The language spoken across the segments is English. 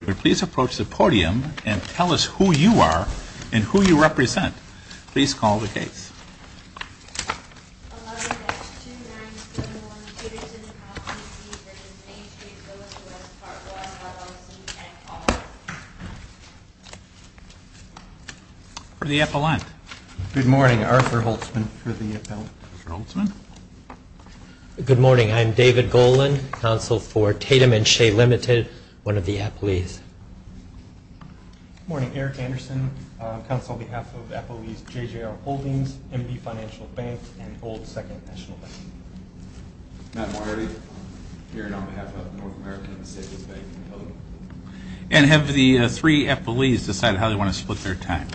If you would please approach the podium and tell us who you are and who you represent. Please call the case. 11-2971 P.S. Houpt, P.C. v. Main Street Village West-Part 1, LLC and call the case. For the appellant. Good morning. Arthur Holtzman for the appellant. Arthur Holtzman. Good morning. I'm David Golan, counsel for Tatum & Shea Ltd., one of the appellees. Good morning. Eric Anderson, counsel on behalf of appellees J.J.R. Holdings, MD Financial Bank, and Old Second National Bank. Matt Marty, here on behalf of North American Savings Bank & Hilliard. And have the three appellees decided how they want to split their time?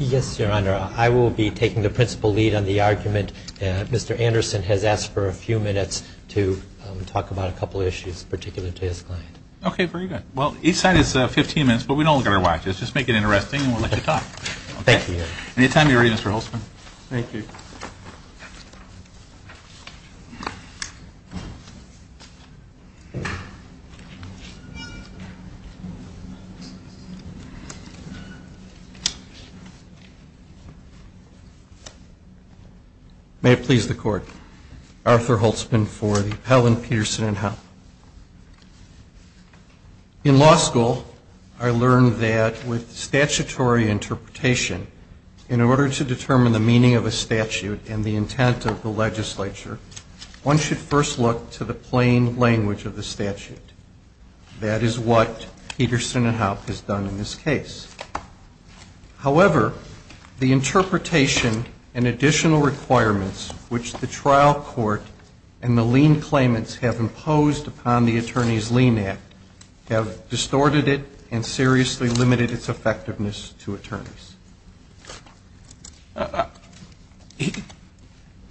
Yes, Your Honor. I will be taking the principal lead on the argument. Mr. Anderson has asked for a few minutes to talk about a couple of issues, particularly to his client. Okay, very good. Well, each side has 15 minutes, but we don't look at our watches. Just make it interesting and we'll let you talk. Thank you, Your Honor. Anytime you're ready, Mr. Holtzman. Thank you. May it please the Court. Arthur Holtzman for the appellant, Peterson & Haupt. In law school, I learned that with statutory interpretation, in order to determine the meaning of a statute and the intent of the legislature, one should first look to the plain language of the statute. That is what Peterson & Haupt has done in this case. However, the interpretation and additional requirements which the trial court and the lien claimants have imposed upon the Attorney's Lien Act have distorted it and seriously limited its effectiveness to attorneys.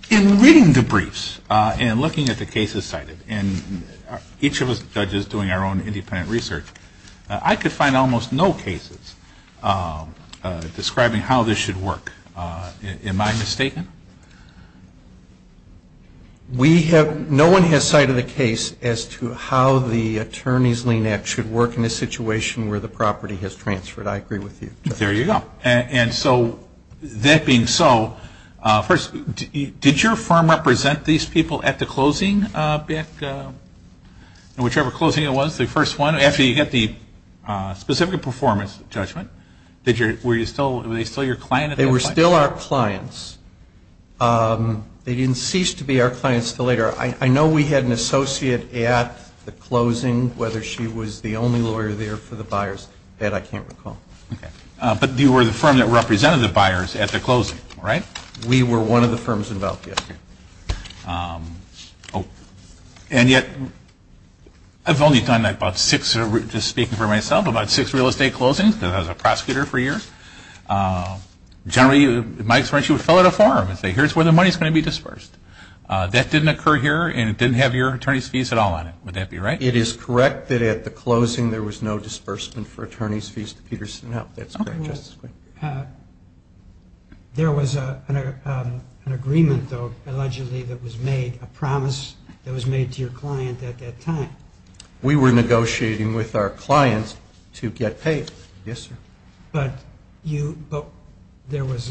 In reading the briefs and looking at the cases cited, and each of us judges doing our own independent research, I could find almost no cases describing how this should work. Am I mistaken? No one has cited a case as to how the Attorney's Lien Act should work in a situation where the property has transferred. I agree with you. There you go. And so, that being so, first, did your firm represent these people at the closing? Whichever closing it was, the first one. After you got the specific performance judgment, were they still your client? They were still our clients. They didn't cease to be our clients until later. I know we had an associate at the closing, whether she was the only lawyer there for the buyers. That I can't recall. But you were the firm that represented the buyers at the closing, right? We were one of the firms involved, yes. Okay. And yet, I've only done about six, just speaking for myself, about six real estate closings. I was a prosecutor for years. Generally, my experience, you would fill out a form and say, here's where the money is going to be dispersed. That didn't occur here, and it didn't have your attorney's fees at all on it. Would that be right? It is correct that at the closing there was no disbursement for attorney's fees to Peterson. No, that's correct. There was an agreement, though, allegedly, that was made, a promise that was made to your client at that time. We were negotiating with our clients to get paid. Yes, sir. But there was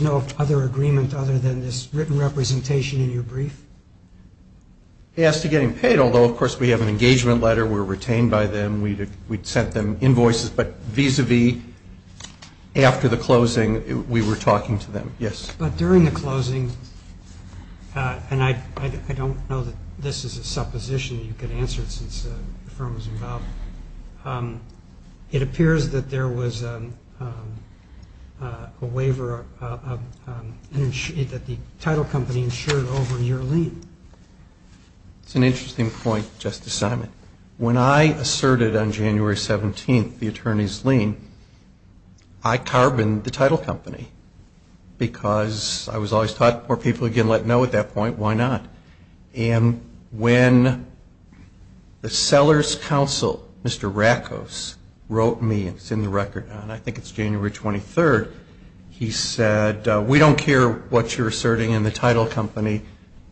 no other agreement other than this written representation in your brief? They asked to get him paid, although, of course, we have an engagement letter. We were retained by them. We sent them invoices, but vis-a-vis, after the closing, we were talking to them. Yes. But during the closing, and I don't know that this is a supposition you can answer since the firm was involved, it appears that there was a waiver that the title company insured over your lien. That's an interesting point, Justice Simon. When I asserted on January 17th the attorney's lien, I carboned the title company because I was always taught, poor people are going to let know at that point. Why not? And when the seller's counsel, Mr. Rackos, wrote me, it's in the record now, and I think it's January 23rd, he said, we don't care what you're asserting in the title company.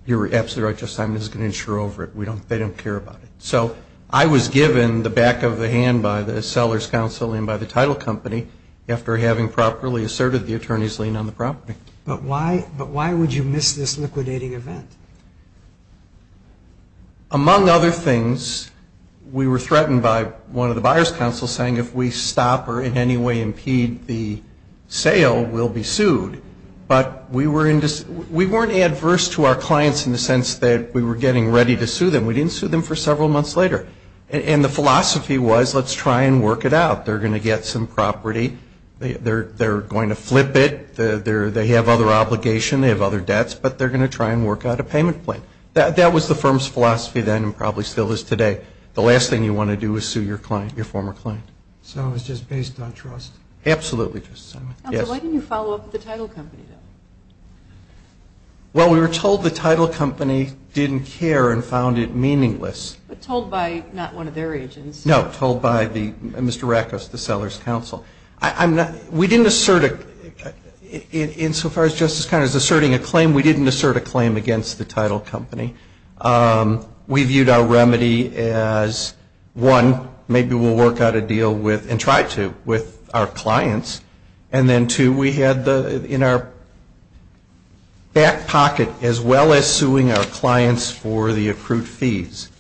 You're absolutely right, Justice Simon, this is going to insure over it. They don't care about it. So I was given the back of the hand by the seller's counsel and by the title company after having properly asserted the attorney's lien on the property. But why would you miss this liquidating event? Among other things, we were threatened by one of the buyer's counsels saying if we stop or in any way impede the sale, we'll be sued. But we weren't adverse to our clients in the sense that we were getting ready to sue them. We didn't sue them for several months later. And the philosophy was let's try and work it out. They're going to get some property. They're going to flip it. They have other obligations. They have other debts. But they're going to try and work out a payment plan. That was the firm's philosophy then and probably still is today. The last thing you want to do is sue your client, your former client. So it was just based on trust. Absolutely, Justice Simon. Counsel, why didn't you follow up with the title company? Well, we were told the title company didn't care and found it meaningless. But told by not one of their agents. No, told by Mr. Rackus, the seller's counsel. We didn't assert it. Insofar as Justice Connery is asserting a claim, we didn't assert a claim against the title company. We viewed our remedy as, one, maybe we'll work out a deal with and try to with our clients, and then, two, we had in our back pocket, as well as suing our clients for the accrued fees,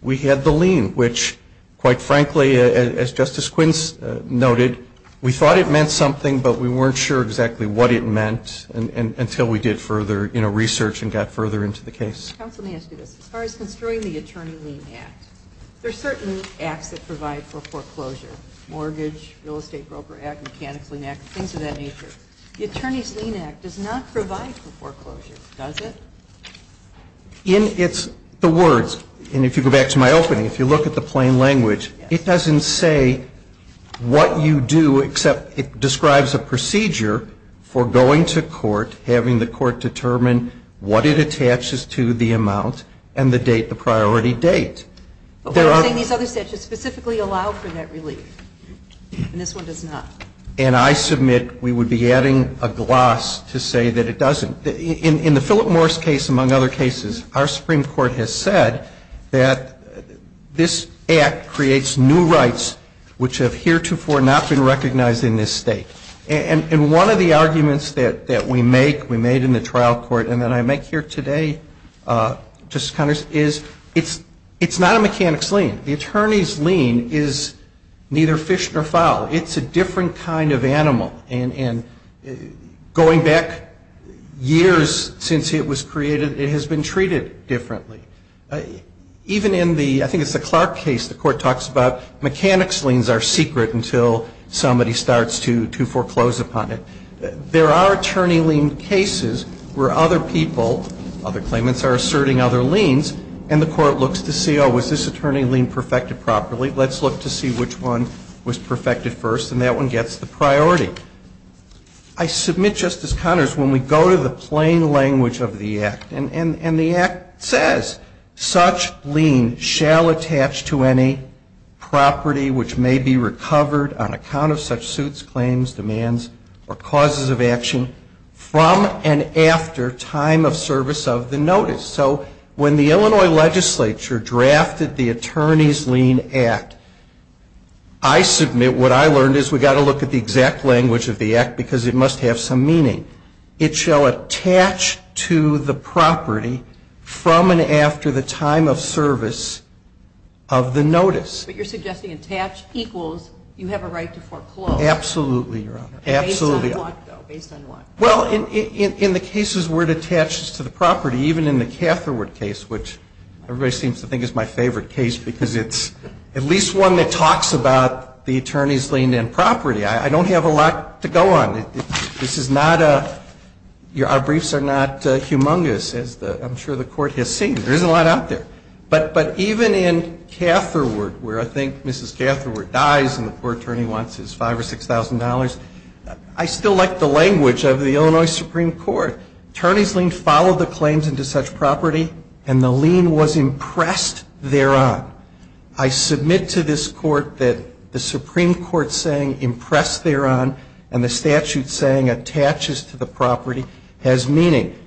we had the lien, which quite frankly, as Justice Quince noted, we thought it meant something, but we weren't sure exactly what it meant until we did further research and got further into the case. Counsel, let me ask you this. As far as construing the attorney lien act, there are certain acts that provide for foreclosure, mortgage, real estate broker act, mechanical lien act, things of that nature. The attorney's lien act does not provide for foreclosure, does it? In its words, and if you go back to my opening, if you look at the plain language, it doesn't say what you do except it describes a procedure for going to court, having the court determine what it attaches to the amount and the date, the priority date. These other statutes specifically allow for that relief, and this one does not. And I submit we would be adding a gloss to say that it doesn't. In the Philip Morris case, among other cases, our Supreme Court has said that this act creates new rights which have heretofore not been recognized in this State. And one of the arguments that we make, we made in the trial court and that I make here today, Justice Connors, is it's not a mechanics lien. The attorney's lien is neither fish nor fowl. It's a different kind of animal. And going back years since it was created, it has been treated differently. Even in the, I think it's the Clark case, the court talks about mechanics liens are to foreclose upon it. There are attorney lien cases where other people, other claimants are asserting other liens, and the court looks to see, oh, was this attorney lien perfected properly? Let's look to see which one was perfected first, and that one gets the priority. I submit, Justice Connors, when we go to the plain language of the act, and the act says, such lien shall attach to any property which may be recovered on account of such suits, claims, demands, or causes of action from and after time of service of the notice. So when the Illinois legislature drafted the Attorney's Lien Act, I submit what I learned is we've got to look at the exact language of the act because it must have some meaning. It shall attach to the property from and after the time of service of the notice. But you're suggesting attach equals you have a right to foreclose. Absolutely, Your Honor. Based on what, though? Based on what? Well, in the cases where it attaches to the property, even in the Catherwood case, which everybody seems to think is my favorite case because it's at least one that talks about the attorney's lien and property. I don't have a lot to go on. This is not a, our briefs are not humongous, as I'm sure the Court has seen. There isn't a lot out there. But even in Catherwood, where I think Mrs. Catherwood dies and the poor attorney wants his $5,000 or $6,000, I still like the language of the Illinois Supreme Court. Attorney's lien followed the claims into such property and the lien was impressed thereon. I submit to this Court that the Supreme Court saying impressed thereon and the statute saying attaches to the property has meaning.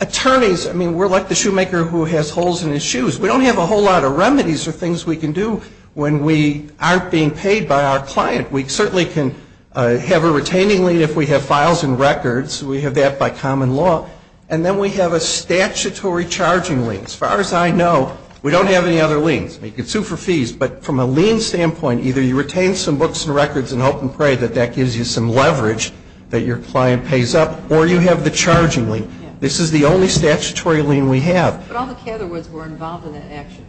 Attorneys, I mean, we're like the shoemaker who has holes in his shoes. We don't have a whole lot of remedies or things we can do when we aren't being paid by our client. We certainly can have a retaining lien if we have files and records. We have that by common law. And then we have a statutory charging lien. As far as I know, we don't have any other liens. You can sue for fees. But from a lien standpoint, either you retain some books and records and hope and pray that that gives you some leverage that your client pays up, or you have a charging lien. This is the only statutory lien we have. But all the Catherwoods were involved in that action.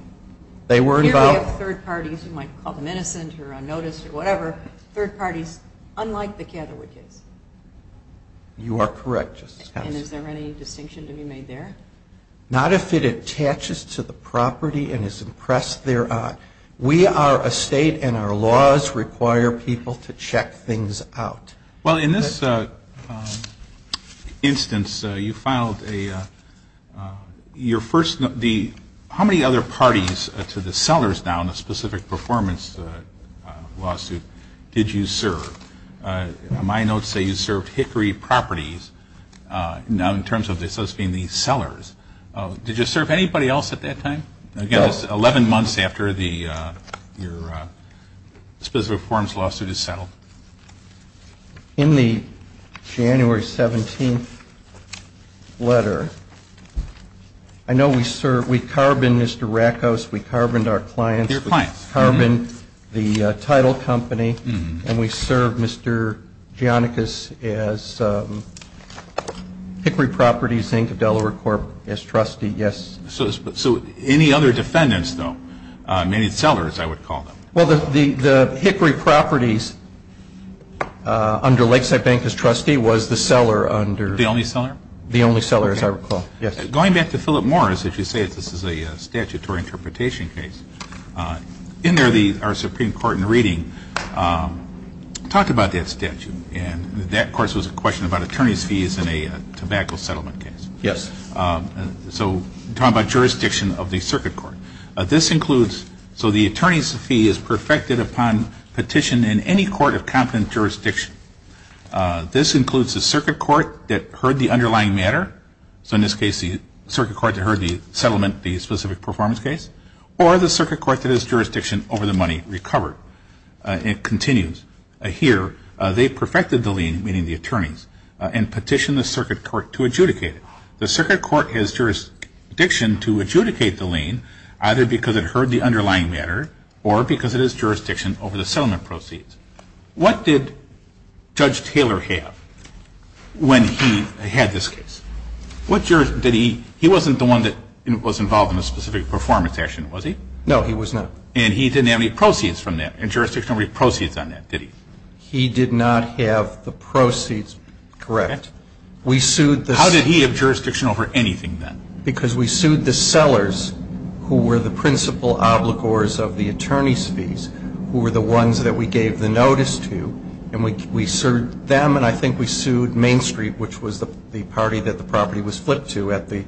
They were involved. Here we have third parties. You might call them innocent or unnoticed or whatever, third parties, unlike the Catherwood case. You are correct, Justice Katz. And is there any distinction to be made there? Not if it attaches to the property and is impressed thereon. We are a state and our laws require people to check things out. Well, in this instance, you filed your first note. How many other parties to the sellers now in the specific performance lawsuit did you serve? My notes say you served Hickory Properties. Now in terms of this being the sellers, did you serve anybody else at that time? Again, it's 11 months after your specific performance lawsuit is settled. In the January 17th letter, I know we served, we carboned Mr. Rakos, we carboned our clients. Your clients. Carboned the title company, and we served Mr. Giannikas as Hickory Properties, Inc., of Delaware Corp., as trustee, yes. So any other defendants, though? Many sellers, I would call them. Well, the Hickory Properties, under Lakeside Bank as trustee, was the seller under... The only seller? The only seller, as I recall, yes. Going back to Philip Morris, as you say, this is a statutory interpretation case. In there, our Supreme Court in reading talked about that statute, and that, of course, was a question about attorney's fees in a tobacco settlement case. Yes. So talk about jurisdiction of the circuit court. This includes, so the attorney's fee is perfected upon petition in any court of competent jurisdiction. This includes the circuit court that heard the underlying matter, so in this case the circuit court that heard the settlement, the specific performance case, or the circuit court that has jurisdiction over the money recovered. It continues. Here, they perfected the lien, meaning the attorneys, and petitioned the circuit court to adjudicate it. The circuit court has jurisdiction to adjudicate the lien either because it heard the underlying matter or because it has jurisdiction over the settlement proceeds. What did Judge Taylor have when he had this case? What jurisdiction? He wasn't the one that was involved in a specific performance action, was he? No, he was not. And he didn't have any proceeds from that, any jurisdictional proceeds on that, did he? We sued the... How did he have jurisdiction over anything then? Because we sued the sellers who were the principal obligors of the attorney's fees, who were the ones that we gave the notice to, and we sued them, and I think we sued Main Street, which was the party that the property was flipped to at the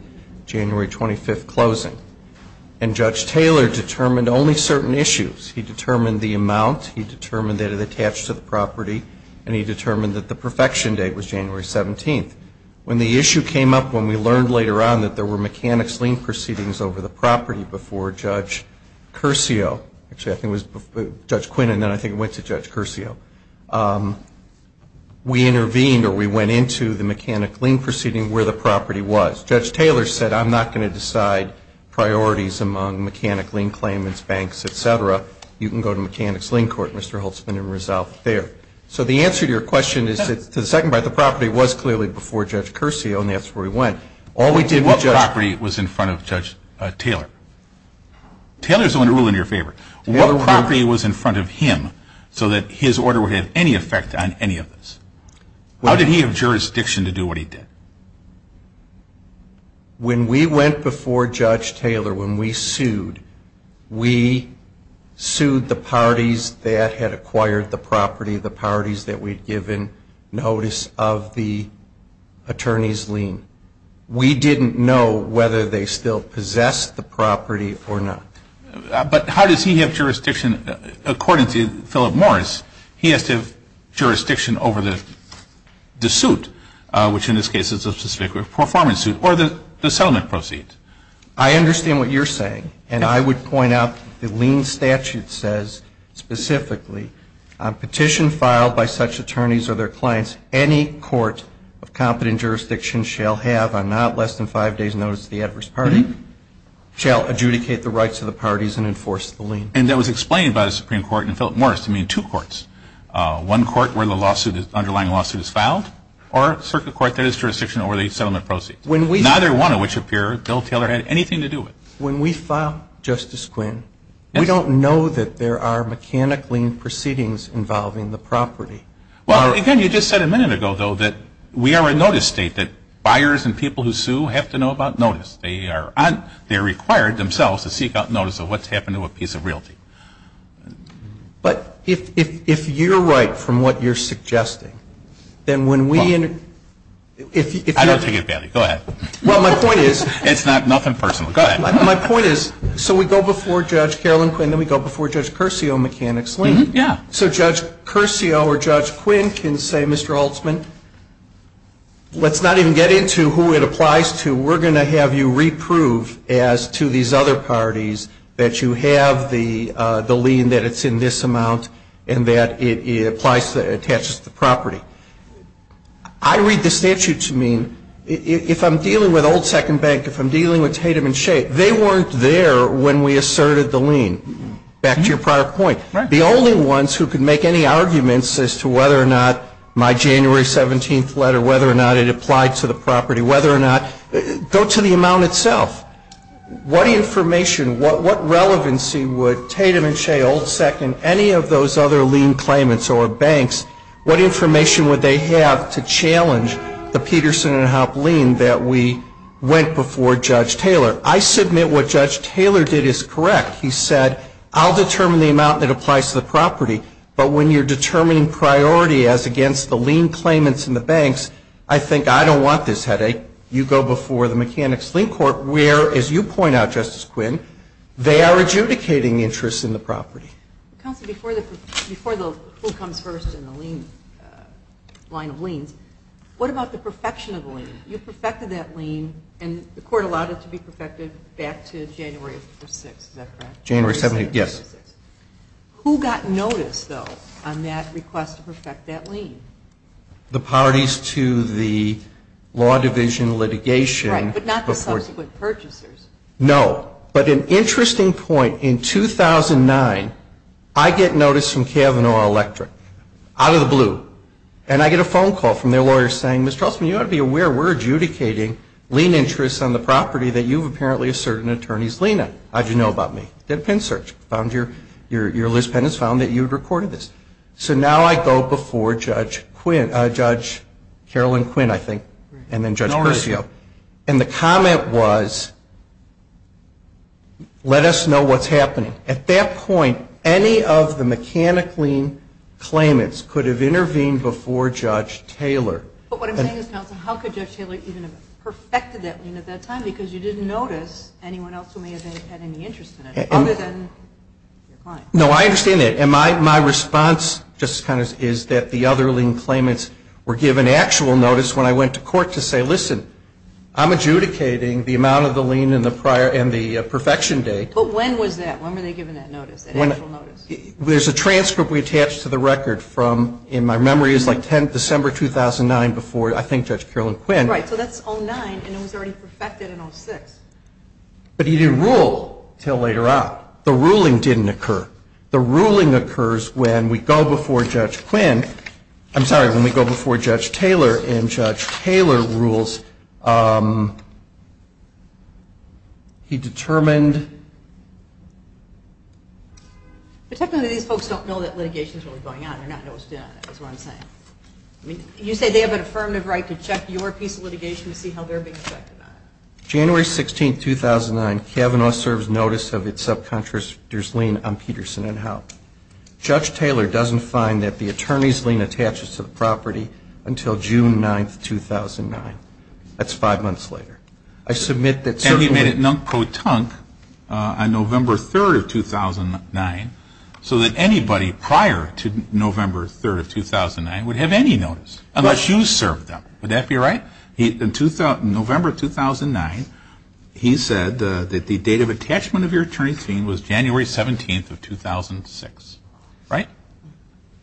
January 25th closing. And Judge Taylor determined only certain issues. He determined the amount, he determined that it attached to the property, and he determined that the perfection date was January 17th. When the issue came up, when we learned later on that there were mechanics lien proceedings over the property before Judge Curcio, actually I think it was Judge Quinn, and then I think it went to Judge Curcio, we intervened or we went into the mechanics lien proceeding where the property was. Judge Taylor said, I'm not going to decide priorities among mechanics lien claimants, banks, et cetera. You can go to mechanics lien court, Mr. Holtzman, and resolve it there. So the answer to your question is to the second part, the property was clearly before Judge Curcio, and that's where we went. What property was in front of Judge Taylor? Taylor's own rule in your favor. What property was in front of him so that his order would have any effect on any of this? How did he have jurisdiction to do what he did? When we went before Judge Taylor, when we sued, we sued the parties that had acquired the property, the parties that we'd given notice of the attorney's lien. We didn't know whether they still possessed the property or not. But how does he have jurisdiction? According to Philip Morris, he has to have jurisdiction over the suit, which in this case is a specific performance suit, or the settlement proceeds. I understand what you're saying, and I would point out the lien statute says specifically, on petition filed by such attorneys or their clients, any court of competent jurisdiction shall have on not less than five days' notice to the adverse party, shall adjudicate the rights of the parties and enforce the lien. And that was explained by the Supreme Court in Philip Morris. I mean, two courts, one court where the underlying lawsuit is filed, or a circuit court that has jurisdiction over the settlement proceeds. Neither one of which appear, Bill Taylor had anything to do with. When we file, Justice Quinn, we don't know that there are mechanic lien proceedings involving the property. Well, again, you just said a minute ago, though, that we are a notice state, that buyers and people who sue have to know about notice. They are required themselves to seek out notice of what's happened to a piece of realty. But if you're right from what you're suggesting, then when we in the I don't take it badly. Go ahead. Well, my point is It's nothing personal. Go ahead. My point is, so we go before Judge Carolyn Quinn, then we go before Judge Curcio on mechanic's lien. Yeah. So Judge Curcio or Judge Quinn can say, Mr. Holtzman, let's not even get into who it applies to. We're going to have you reprove as to these other parties that you have the lien that it's in this amount and that it attaches to the property. I read the statute to mean if I'm dealing with Old Second Bank, if I'm dealing with Tatum and Shea, they weren't there when we asserted the lien. Back to your prior point. Right. The only ones who can make any arguments as to whether or not my January 17th letter, whether or not it applied to the property, whether or not, go to the amount itself. What information, what relevancy would Tatum and Shea, Old Second, any of those other lien claimants or banks, what information would they have to challenge the Peterson and Hopp lien that we went before Judge Taylor? I submit what Judge Taylor did is correct. He said, I'll determine the amount that applies to the property, but when you're determining priority as against the lien claimants and the banks, I think I don't want this headache. You go before the mechanic's lien court where, as you point out, Justice Quinn, they are adjudicating interests in the property. Counsel, before the who comes first in the lien, line of liens, what about the perfection of the lien? You perfected that lien and the court allowed it to be perfected back to January 6th. Is that correct? January 17th, yes. Who got notice, though, on that request to perfect that lien? The parties to the law division litigation. Right, but not the subsequent purchasers. No. But an interesting point. In 2009, I get notice from Kavanaugh Electric, out of the blue, and I get a phone call from their lawyer saying, Mr. Holtzman, you ought to be aware we're adjudicating lien interests on the property that you've apparently asserted an attorney's lien on. How did you know about me? Did a pen search. Your list pen has found that you'd recorded this. So now I go before Judge Quinn, Judge Carolyn Quinn, I think, and then Judge Persio, and the comment was, let us know what's happening. At that point, any of the mechanic lien claimants could have intervened before Judge Taylor. But what I'm saying is, how could Judge Taylor even have perfected that lien at that time? Because you didn't notice anyone else who may have had any interest in it, other than your client. No, I understand that. And my response, Justice Connors, is that the other lien claimants were given actual notice when I went to court to say, listen, I'm adjudicating the amount of the lien and the perfection date. But when was that? When were they given that notice, that actual notice? There's a transcript we attached to the record from, in my memory, it was like December 2009 before, I think, Judge Carolyn Quinn. Right. So that's 09, and it was already perfected in 06. But he didn't rule until later on. The ruling didn't occur. The ruling occurs when we go before Judge Quinn. He determined. But technically these folks don't know that litigation is really going on. They don't know what's going on. That's what I'm saying. You say they have an affirmative right to check your piece of litigation to see how they're being affected on it. January 16, 2009, Kavanaugh serves notice of its subcontractor's lien on Peterson and Howe. Judge Taylor doesn't find that the attorney's lien attaches to the property until June 9, 2009. That's five months later. I submit that certainly. And he made it non-pro-tunk on November 3, 2009, so that anybody prior to November 3, 2009 would have any notice unless you served them. Would that be right? In November 2009, he said that the date of attachment of your attorney's lien was January 17, 2006. Right?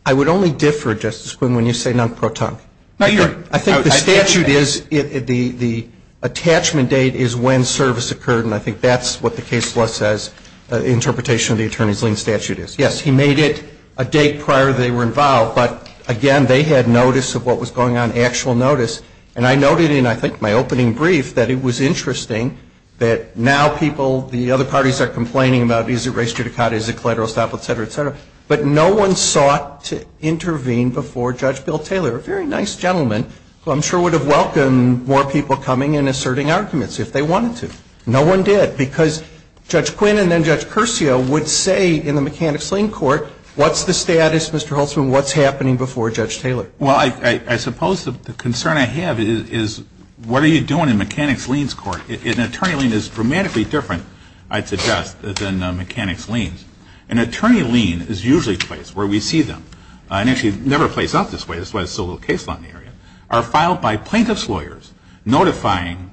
I would only differ, Justice Quinn, when you say non-pro-tunk. I think the statute is the attachment date is when service occurred, and I think that's what the case law says interpretation of the attorney's lien statute is. Yes, he made it a date prior they were involved. But, again, they had notice of what was going on, actual notice. And I noted in, I think, my opening brief that it was interesting that now people, the other parties are complaining about, is it race judicata, is it collateral estoppel, et cetera, et cetera. But no one sought to intervene before Judge Bill Taylor. A very nice gentleman who I'm sure would have welcomed more people coming and asserting arguments if they wanted to. No one did. Because Judge Quinn and then Judge Curcio would say in the mechanics lien court, what's the status, Mr. Holtzman, what's happening before Judge Taylor? Well, I suppose the concern I have is what are you doing in mechanics liens court? An attorney lien is dramatically different, I'd suggest, than mechanics liens. An attorney lien is usually placed where we see them. And, actually, it never plays out this way. That's why there's so little case law in the area. Are filed by plaintiff's lawyers, notifying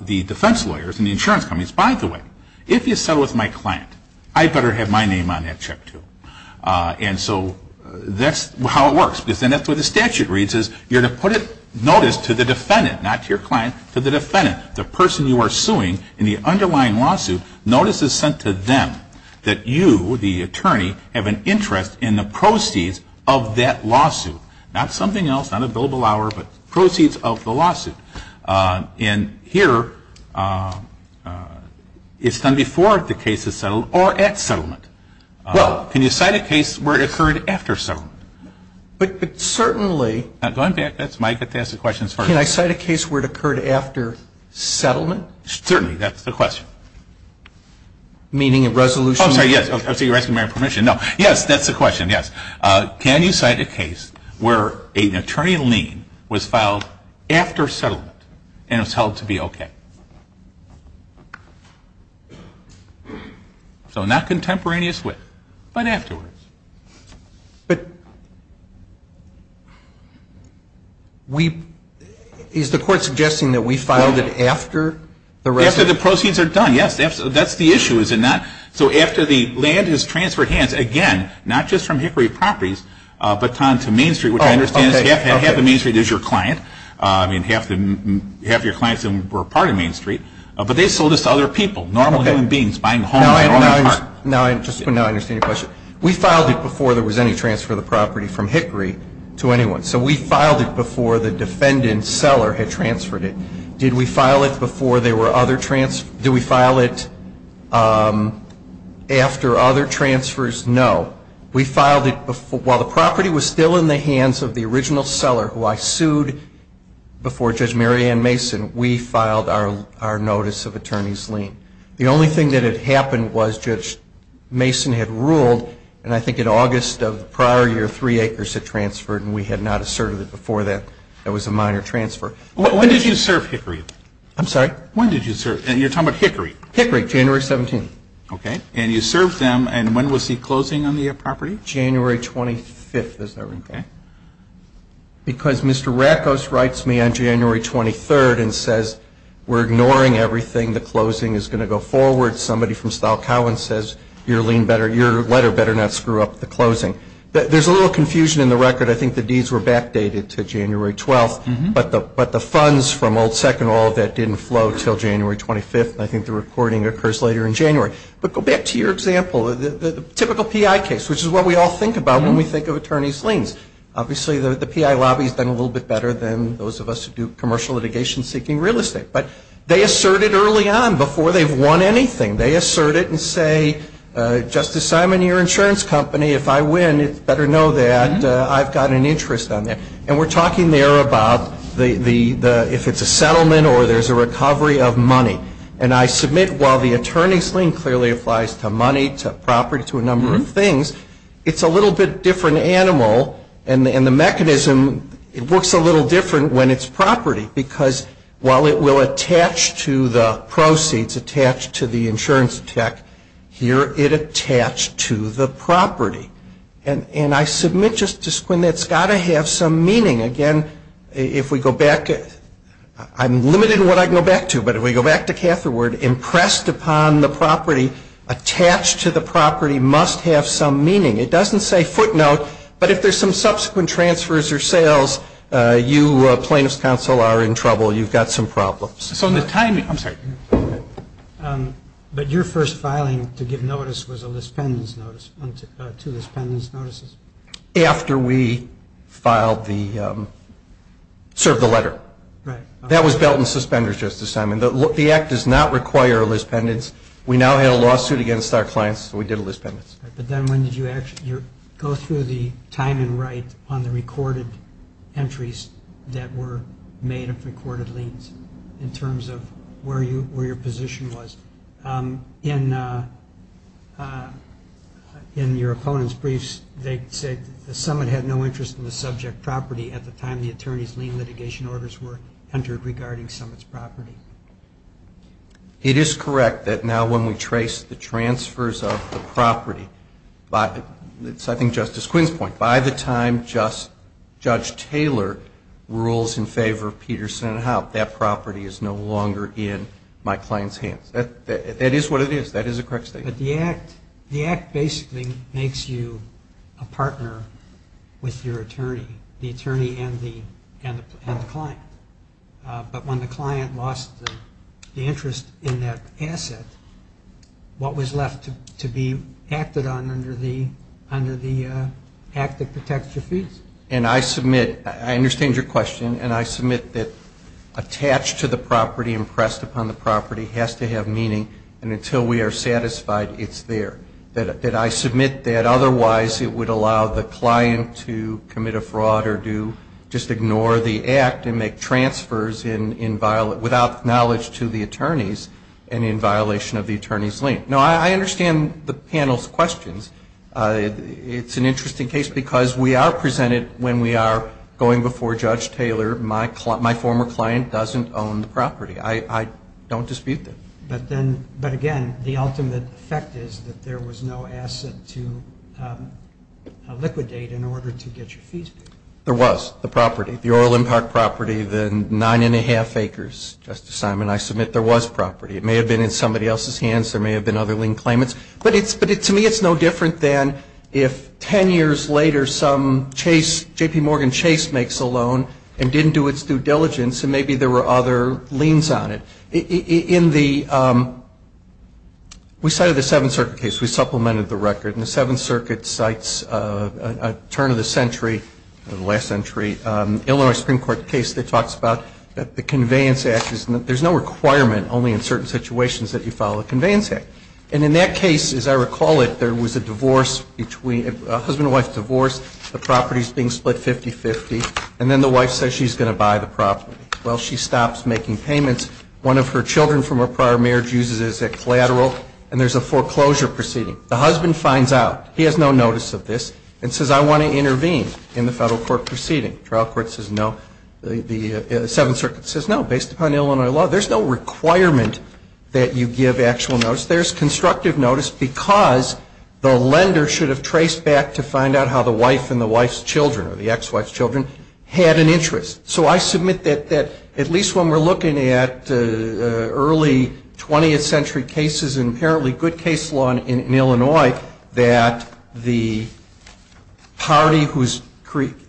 the defense lawyers and the insurance companies, by the way, if you settle with my client, I better have my name on that check, too. And so that's how it works. Because then that's what the statute reads, is you're to put a notice to the defendant, not to your client, to the defendant, the person you are suing in the underlying lawsuit. Notice is sent to them that you, the attorney, have an interest in the proceeds of that lawsuit. Not something else, not a billable hour, but proceeds of the lawsuit. And here it's done before the case is settled or at settlement. Well, can you cite a case where it occurred after settlement? But certainly Can I cite a case where it occurred after settlement? Certainly. That's the question. Meaning a resolution? Oh, I'm sorry, yes. I see you're asking for my permission. No. Yes, that's the question, yes. Can you cite a case where an attorney in lien was filed after settlement and it was held to be okay? So not contemporaneous with, but afterwards. But we, is the court suggesting that we filed it after the resolution? After the proceeds are done, yes. That's the issue, is it not? So after the land is transferred hands, again, not just from Hickory Properties, but on to Main Street, which I understand is half of Main Street is your client. I mean, half of your clients were part of Main Street. But they sold this to other people, normal human beings buying homes. Now I understand your question. We filed it before there was any transfer of the property from Hickory to anyone. So we filed it before the defendant seller had transferred it. Did we file it after other transfers? No. We filed it while the property was still in the hands of the original seller who I sued before Judge Mary Ann Mason, we filed our notice of attorney's lien. The only thing that had happened was Judge Mason had ruled, and I think in August of the prior year, three acres had transferred, and we had not asserted it before that there was a minor transfer. When did you serve Hickory? I'm sorry? When did you serve? You're talking about Hickory. Hickory, January 17th. Okay. And you served them, and when was the closing on the property? January 25th, is that right? Okay. Because Mr. Rackos writes me on January 23rd and says, we're ignoring everything. The closing is going to go forward. Somebody from Stahl Cowen says your letter better not screw up the closing. There's a little confusion in the record. I think the deeds were backdated to January 12th, but the funds from Old Second Oil, that didn't flow until January 25th, and I think the recording occurs later in January. But go back to your example, the typical PI case, which is what we all think about when we think of attorney's liens. Obviously, the PI lobby has done a little bit better than those of us who do commercial litigation seeking real estate. But they assert it early on before they've won anything. They assert it and say, Justice Simon, you're an insurance company. If I win, you better know that I've got an interest on that. And we're talking there about if it's a settlement or there's a recovery of money. And I submit while the attorney's lien clearly applies to money, to property, to a number of things, it's a little bit different animal, and the mechanism, it works a little different when it's property. Because while it will attach to the proceeds, attach to the insurance tax, here it attached to the property. And I submit, Justice Quinn, that's got to have some meaning. Again, if we go back, I'm limited in what I can go back to, but if we go back to Catherwood, impressed upon the property, attached to the property must have some meaning. It doesn't say footnote. But if there's some subsequent transfers or sales, you, plaintiff's counsel, are in trouble. You've got some problems. So in the timing, I'm sorry. But your first filing to give notice was a lispendence notice, two lispendence notices. After we filed the, served the letter. Right. That was belt and suspenders, Justice Simon. The act does not require a lispendence. We now had a lawsuit against our clients, so we did a lispendence. But then when did you go through the time and write on the recorded entries that were made of recorded liens, in terms of where your position was? In your opponent's briefs, they said the summit had no interest in the subject property at the time the attorney's lien litigation orders were entered regarding summit's property. It is correct that now when we trace the transfers of the property, it's I think Justice Quinn's point, by the time Judge Taylor rules in favor of Peterson and Howe, that property is no longer in my client's hands. That is what it is. That is a correct statement. But the act basically makes you a partner with your attorney. The attorney and the client. But when the client lost the interest in that asset, what was left to be acted on under the act that protects your fees? And I submit, I understand your question, and I submit that attached to the property and pressed upon the property has to have meaning, and until we are satisfied, it's there. That I submit that otherwise it would allow the client to commit a fraud or to just ignore the act and make transfers without knowledge to the attorneys, and in violation of the attorney's lien. Now, I understand the panel's questions. It's an interesting case because we are presented when we are going before Judge Taylor, my former client doesn't own the property. I don't dispute that. But again, the ultimate effect is that there was no asset to liquidate in order to get your fees paid. There was. The property. The Orlin Park property, the nine and a half acres. Justice Simon, I submit there was property. It may have been in somebody else's hands. There may have been other lien claimants. But to me it's no different than if ten years later some chase, J.P. Morgan Chase makes a loan and didn't do its due diligence and maybe there were other liens on it. In the we cited the Seventh Circuit case. We supplemented the record. And the Seventh Circuit cites a turn of the century, the last century, Illinois Supreme Court case that talks about the Conveyance Act. There's no requirement only in certain situations that you follow the Conveyance Act. And in that case, as I recall it, there was a divorce between a husband and wife divorce. The property is being split 50-50. And then the wife says she's going to buy the property. Well, she stops making payments. One of her children from a prior marriage uses it as a collateral. And there's a foreclosure proceeding. The husband finds out. He has no notice of this and says, I want to intervene in the federal court proceeding. Trial court says no. The Seventh Circuit says no, based upon Illinois law. There's no requirement that you give actual notice. There's constructive notice because the lender should have traced back to find out how the wife and the wife's children or the ex-wife's children had an interest. So I submit that at least when we're looking at early 20th century cases and apparently good case law in Illinois, that the party who's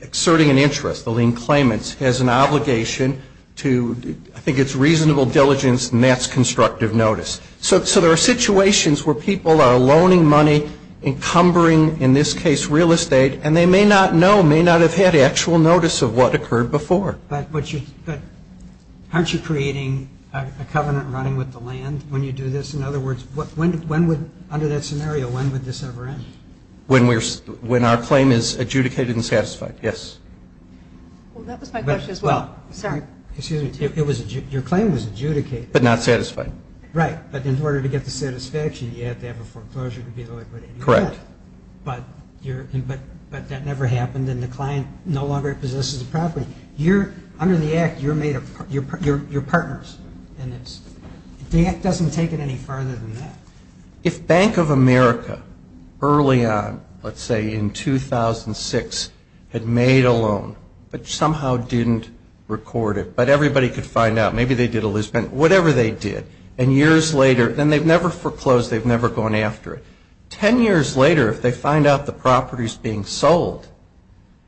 exerting an interest, the lien claimants, has an obligation to, I think it's reasonable diligence, and that's constructive notice. So there are situations where people are loaning money, encumbering, in this case, real estate, and they may not know, may not have had actual notice of what occurred before. But aren't you creating a covenant running with the land when you do this? In other words, under that scenario, when would this ever end? When our claim is adjudicated and satisfied, yes. Well, that was my question as well. Sir? Excuse me. Your claim was adjudicated. But not satisfied. Right. But in order to get the satisfaction, you have to have a foreclosure to be liquidated. Correct. But that never happened, and the client no longer possesses the property. Under the Act, you're partners, and the Act doesn't take it any farther than that. If Bank of America early on, let's say in 2006, had made a loan but somehow didn't record it, but everybody could find out, maybe they did a loose pen, whatever they did, and years later, then they've never foreclosed, they've never gone after it. Ten years later, if they find out the property is being sold,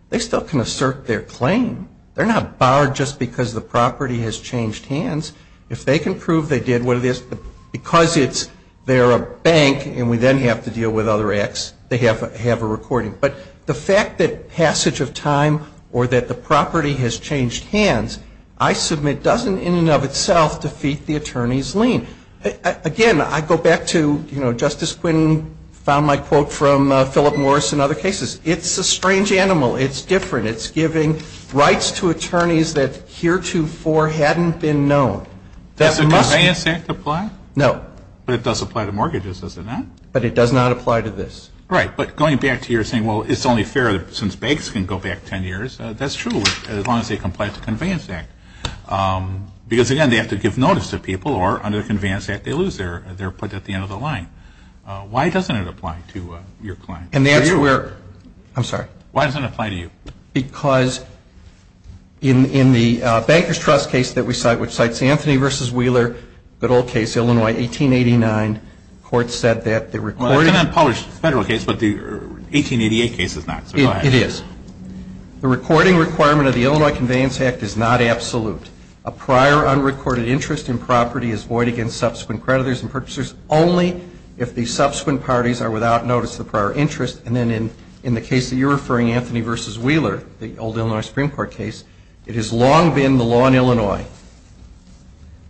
they still can assert their claim. They're not barred just because the property has changed hands. If they can prove they did what it is because they're a bank and we then have to deal with other acts, they have a recording. But the fact that passage of time or that the property has changed hands, I submit, doesn't in and of itself defeat the attorney's lien. Again, I go back to Justice Quinn found my quote from Philip Morris and other cases. It's a strange animal. It's different. It's giving rights to attorneys that heretofore hadn't been known. Does the Conveyance Act apply? No. But it does apply to mortgages, does it not? But it does not apply to this. Right. But going back to your saying, well, it's only fair since banks can go back ten years, that's true as long as they comply with the Conveyance Act. Because, again, they have to give notice to people or under the Conveyance Act, they lose their put at the end of the line. Why doesn't it apply to your client? I'm sorry. Why doesn't it apply to you? Because in the Banker's Trust case that we cite, which cites Anthony v. Wheeler, good old case, Illinois, 1889, the court said that the recording of the Illinois Conveyance Act Well, it's an unpublished federal case, but the 1888 case is not, so go ahead. It is. The recording requirement of the Illinois Conveyance Act is not absolute. A prior unrecorded interest in property is void against subsequent creditors and purchasers only if the subsequent parties are without notice of the prior interest. And then in the case that you're referring, Anthony v. Wheeler, the old Illinois Supreme Court case, it has long been the law in Illinois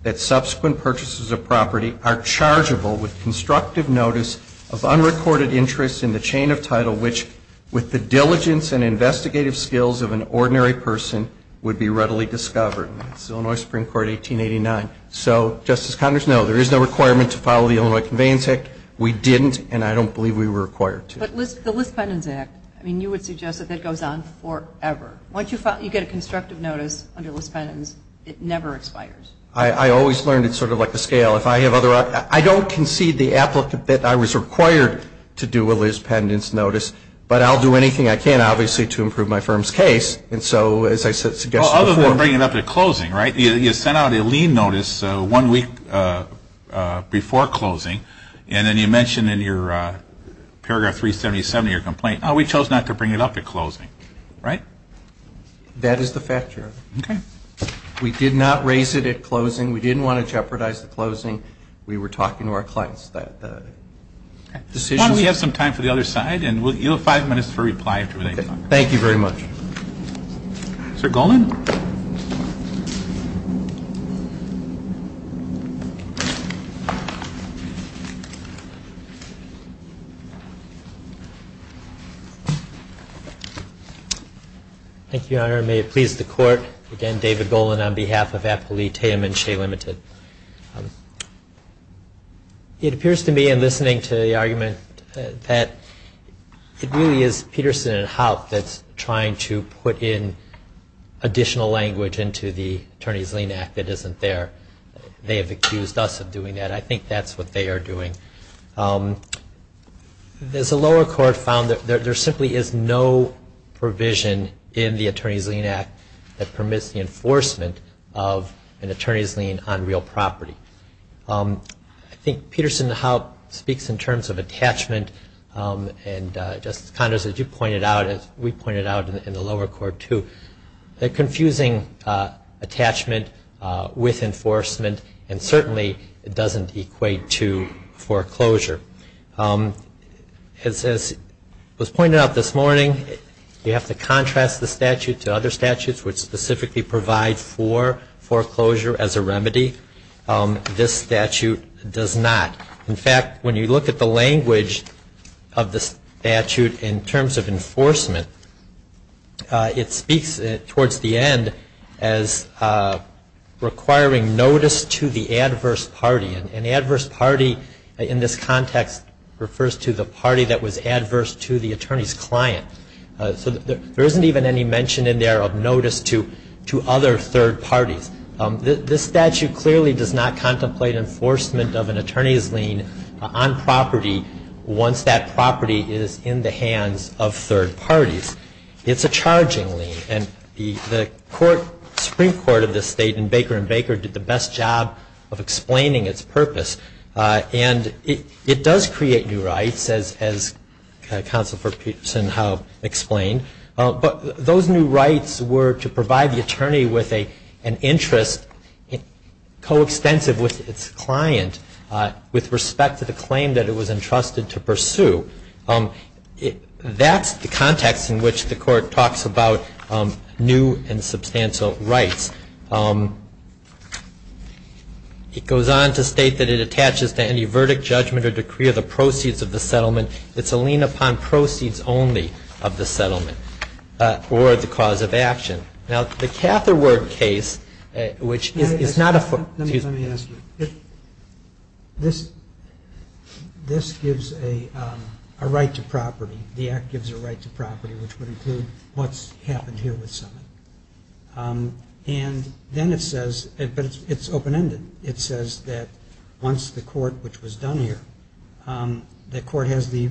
that subsequent purchases of property are chargeable with constructive notice of unrecorded interest in the chain of title, which with the diligence and investigative skills of an ordinary person would be readily discovered. That's Illinois Supreme Court, 1889. So, Justice Connors, no, there is no requirement to follow the Illinois Conveyance Act. We didn't, and I don't believe we were required to. But the Liz Pendens Act, I mean, you would suggest that that goes on forever. Once you get a constructive notice under Liz Pendens, it never expires. I always learned it's sort of like a scale. I don't concede the applicant that I was required to do a Liz Pendens notice, but I'll do anything I can, obviously, to improve my firm's case. And so, as I suggested before. Well, other than bringing it up at closing, right? You sent out a lien notice one week before closing, and then you mentioned in your paragraph 377 of your complaint, oh, we chose not to bring it up at closing, right? That is the fact, Your Honor. Okay. We did not raise it at closing. We didn't want to jeopardize the closing. We were talking to our clients about the decisions. Why don't we have some time for the other side, and you'll have five minutes for reply. Okay. Thank you very much. Sir Golan? Thank you, Your Honor. May it please the Court. Again, David Golan on behalf of Appali Taim and Shea Limited. It appears to me in listening to the argument that it really is Peterson and Haupt that's trying to put in additional language into the Attorney's Lien Act that isn't there. They have accused us of doing that. I think that's what they are doing. There's a lower court found that there simply is no provision in the Attorney's Lien Act that permits the enforcement of an attorney's lien on real property. I think Peterson and Haupt speaks in terms of attachment, and Justice Condos, as you pointed out, as we pointed out in the lower court too, a confusing attachment with enforcement, and certainly it doesn't equate to foreclosure. As was pointed out this morning, you have to contrast the statute to other statutes which specifically provide for foreclosure as a remedy. This statute does not. In fact, when you look at the language of the statute in terms of enforcement, it speaks towards the end as requiring notice to the adverse party. An adverse party in this context refers to the party that was adverse to the attorney's client. There isn't even any mention in there of notice to other third parties. This statute clearly does not contemplate enforcement of an attorney's lien on property once that property is in the hands of third parties. It's a charging lien, and the Supreme Court of this state in Baker v. Baker did the best job of explaining its purpose. It does create new rights, as Counsel for Peterson and Haupt explained, but those new rights were to provide the attorney with an interest coextensive with its client with respect to the claim that it was entrusted to pursue. That's the context in which the Court talks about new and substantial rights. It goes on to state that it attaches to any verdict, judgment, or decree of the proceeds of the settlement. It's a lien upon proceeds only of the settlement or the cause of action. Now, the Catherward case, which is not a foreclosure. Let me ask you. This gives a right to property. The Act gives a right to property, which would include what's happened here with Summitt. And then it says, but it's open-ended. It says that once the court, which was done here, the court has the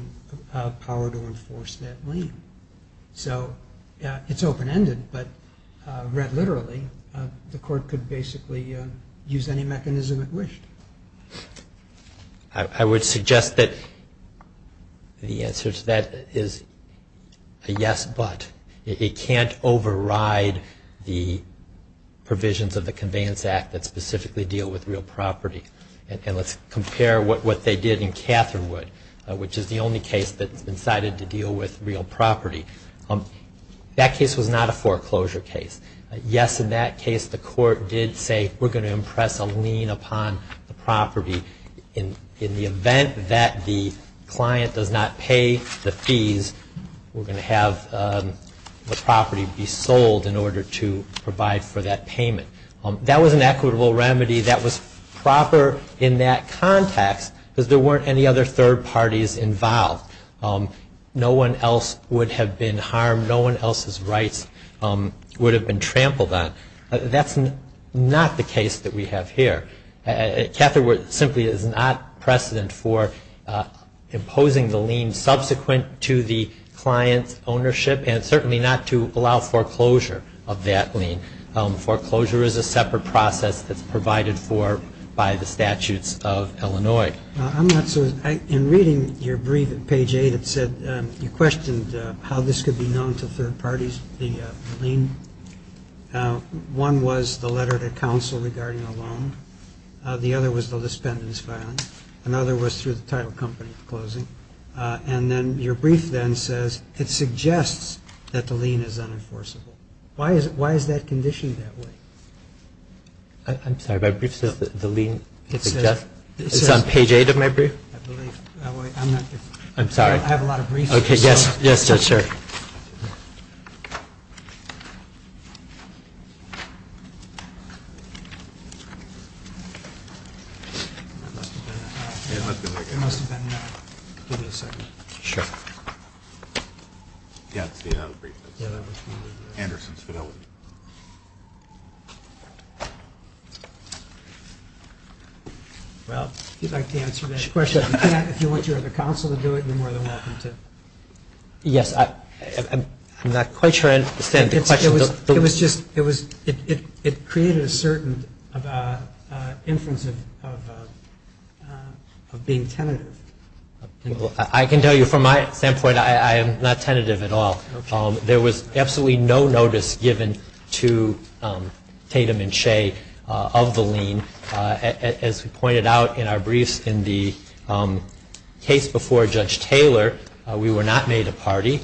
power to enforce that lien. So it's open-ended, but read literally, the court could basically use any mechanism it wished. I would suggest that the answer to that is a yes, but. It can't override the provisions of the Conveyance Act that specifically deal with real property. And let's compare what they did in Catherwood, which is the only case that's been cited to deal with real property. That case was not a foreclosure case. Yes, in that case, the court did say, we're going to impress a lien upon the property. In the event that the client does not pay the fees, we're going to have the property be sold in order to provide for that payment. That was an equitable remedy that was proper in that context, because there weren't any other third parties involved. No one else would have been harmed. No one else's rights would have been trampled on. That's not the case that we have here. Catherwood simply is not precedent for imposing the lien subsequent to the client's ownership and certainly not to allow foreclosure of that lien. Foreclosure is a separate process that's provided for by the statutes of Illinois. I'm not sure. In reading your brief at page 8, it said you questioned how this could be known to third parties, the lien. One was the letter to counsel regarding a loan. The other was the lispendence filing. Another was through the title company at the closing. And then your brief then says it suggests that the lien is unenforceable. Why is that conditioned that way? I'm sorry. My brief says that the lien is unenforceable. It's on page 8 of my brief? I'm sorry. I have a lot of briefs. Yes, sir. Thank you. Well, if you'd like to answer that question, if you want your other counsel to do it, you're more than welcome to. Yes. I'm not quite sure I understand the question. It was just, it created a certain influence of being tentative. I can tell you from my standpoint, I am not tentative at all. There was absolutely no notice given to Tatum and Shea of the lien. As we pointed out in our briefs in the case before Judge Taylor, we were not made a party.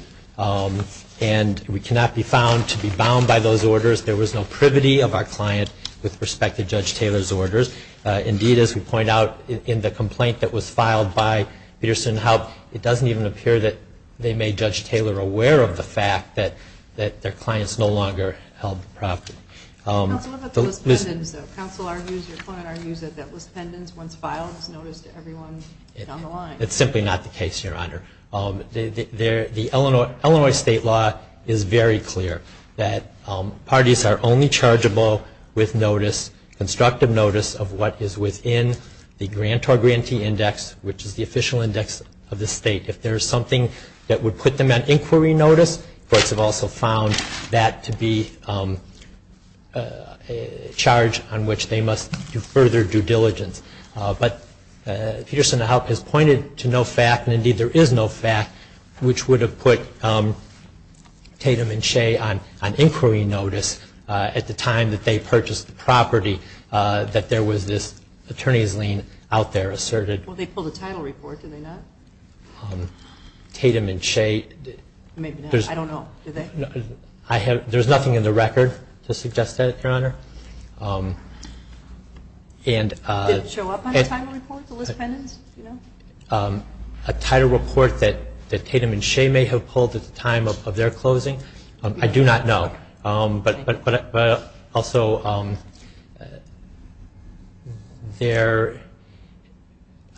And we cannot be found to be bound by those orders. There was no privity of our client with respect to Judge Taylor's orders. Indeed, as we point out in the complaint that was filed by Peterson Health, it doesn't even appear that they made Judge Taylor aware of the fact that their clients no longer held the property. Counsel, what about the list pendants, though? Counsel argues, your client argues that that list pendants, once filed, was noticed to everyone down the line. It's simply not the case, Your Honor. The Illinois state law is very clear that parties are only chargeable with notice, constructive notice of what is within the grantor-grantee index, which is the official index of the state. If there is something that would put them on inquiry notice, courts have also found that to be a charge on which they must do further due diligence. But Peterson Health has pointed to no fact, and indeed there is no fact, which would have put Tatum and Shea on inquiry notice at the time that they purchased the property, that there was this attorney's lien out there asserted. Well, they pulled a title report, did they not? Tatum and Shea, there's nothing in the record to suggest that, Your Honor. Did it show up on the title report, the list pendants? A title report that Tatum and Shea may have pulled at the time of their closing, I do not know. But also,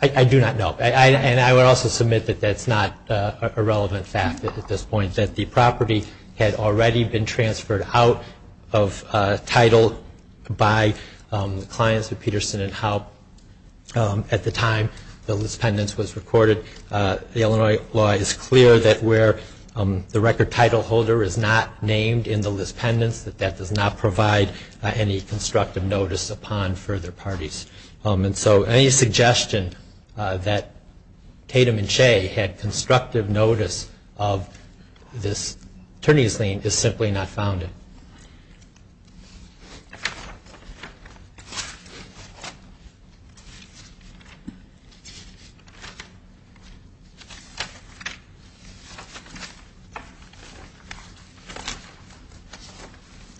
I do not know. And I would also submit that that's not a relevant fact at this point, that the property had already been transferred out of title by the clients of Peterson and Howe at the time the list pendants was recorded. The Illinois law is clear that where the record title holder is not named in the list pendants, that that does not provide any constructive notice upon further parties. And so any suggestion that Tatum and Shea had constructive notice of this attorney's lien is simply not founded.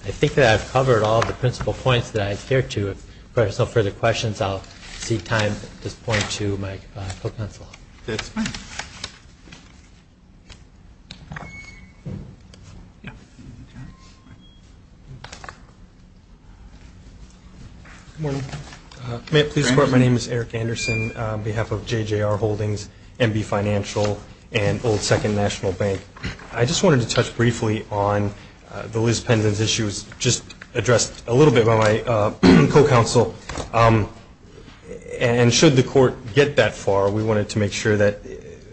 I think that I've covered all the principal points that I adhere to. If there's no further questions, I'll cede time at this point to my co-counsel. That's fine. Good morning. May it please the Court, my name is Eric Anderson on behalf of JJR Holdings, MB Financial, and Old Second National Bank. I just wanted to touch briefly on the list pendants issues just addressed a little bit by my co-counsel. And should the Court get that far, we wanted to make sure that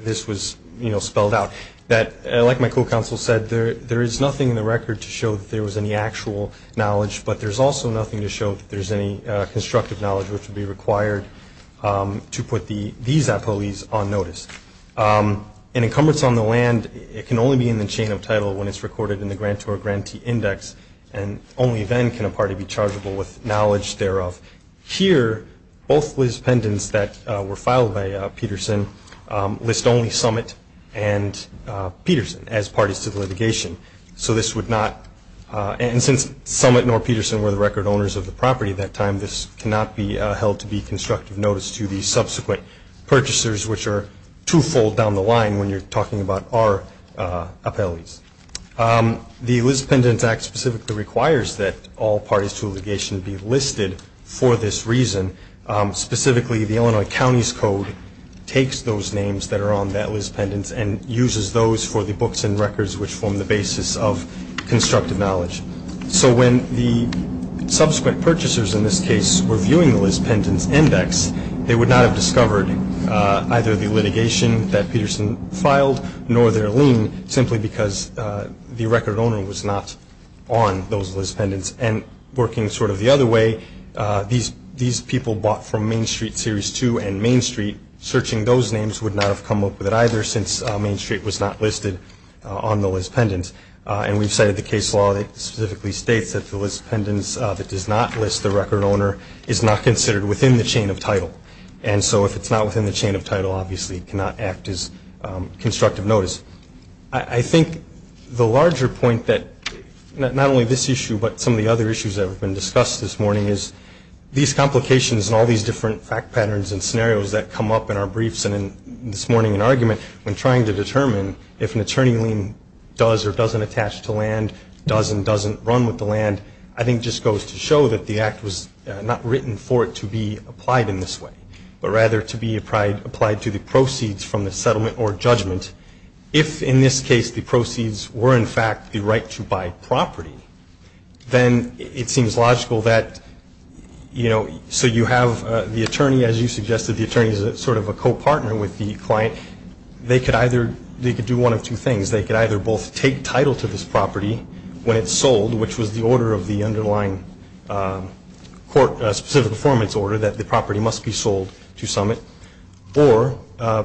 this was spelled out. Like my co-counsel said, there is nothing in the record to show that there was any actual knowledge, but there's also nothing to show that there's any constructive knowledge which would be required to put these employees on notice. An encumbrance on the land can only be in the chain of title when it's recorded in the grantor grantee index and only then can a party be chargeable with knowledge thereof. Here, both list pendants that were filed by Peterson list only Summit and Peterson as parties to the litigation. And since Summit nor Peterson were the record owners of the property at that time, this cannot be held to be constructive notice to the subsequent purchasers, which are twofold down the line when you're talking about our appellees. The List Pendants Act specifically requires that all parties to litigation be listed for this reason. Specifically, the Illinois County's Code takes those names that are on that list pendants and uses those for the books and records which form the basis of constructive knowledge. So when the subsequent purchasers in this case were viewing the list pendants index, they would not have discovered either the litigation that Peterson filed nor their lien simply because the record owner was not on those list pendants. And working sort of the other way, these people bought from Main Street Series 2 and Main Street. Searching those names would not have come up with it either since Main Street was not listed on the list pendants. And we've cited the case law that specifically states that the list pendants that does not list the record owner is not considered within the chain of title. And so if it's not within the chain of title, obviously it cannot act as constructive notice. I think the larger point that not only this issue but some of the other issues that have been discussed this morning is these complications and all these different fact patterns and scenarios that come up in our briefs and in this morning in argument when trying to determine if an attorney lien does or doesn't attach to land, does and doesn't run with the land, I think just goes to show that the act was not written for it to be applied in this way. But rather to be applied to the proceeds from the settlement or judgment. If in this case the proceeds were in fact the right to buy property, then it seems logical that, you know, so you have the attorney, as you suggested, the attorney is sort of a co-partner with the client. They could do one of two things. They could either both take title to this property when it's sold, which was the order of the underlying court specific performance order that the property must be sold to Summit. Or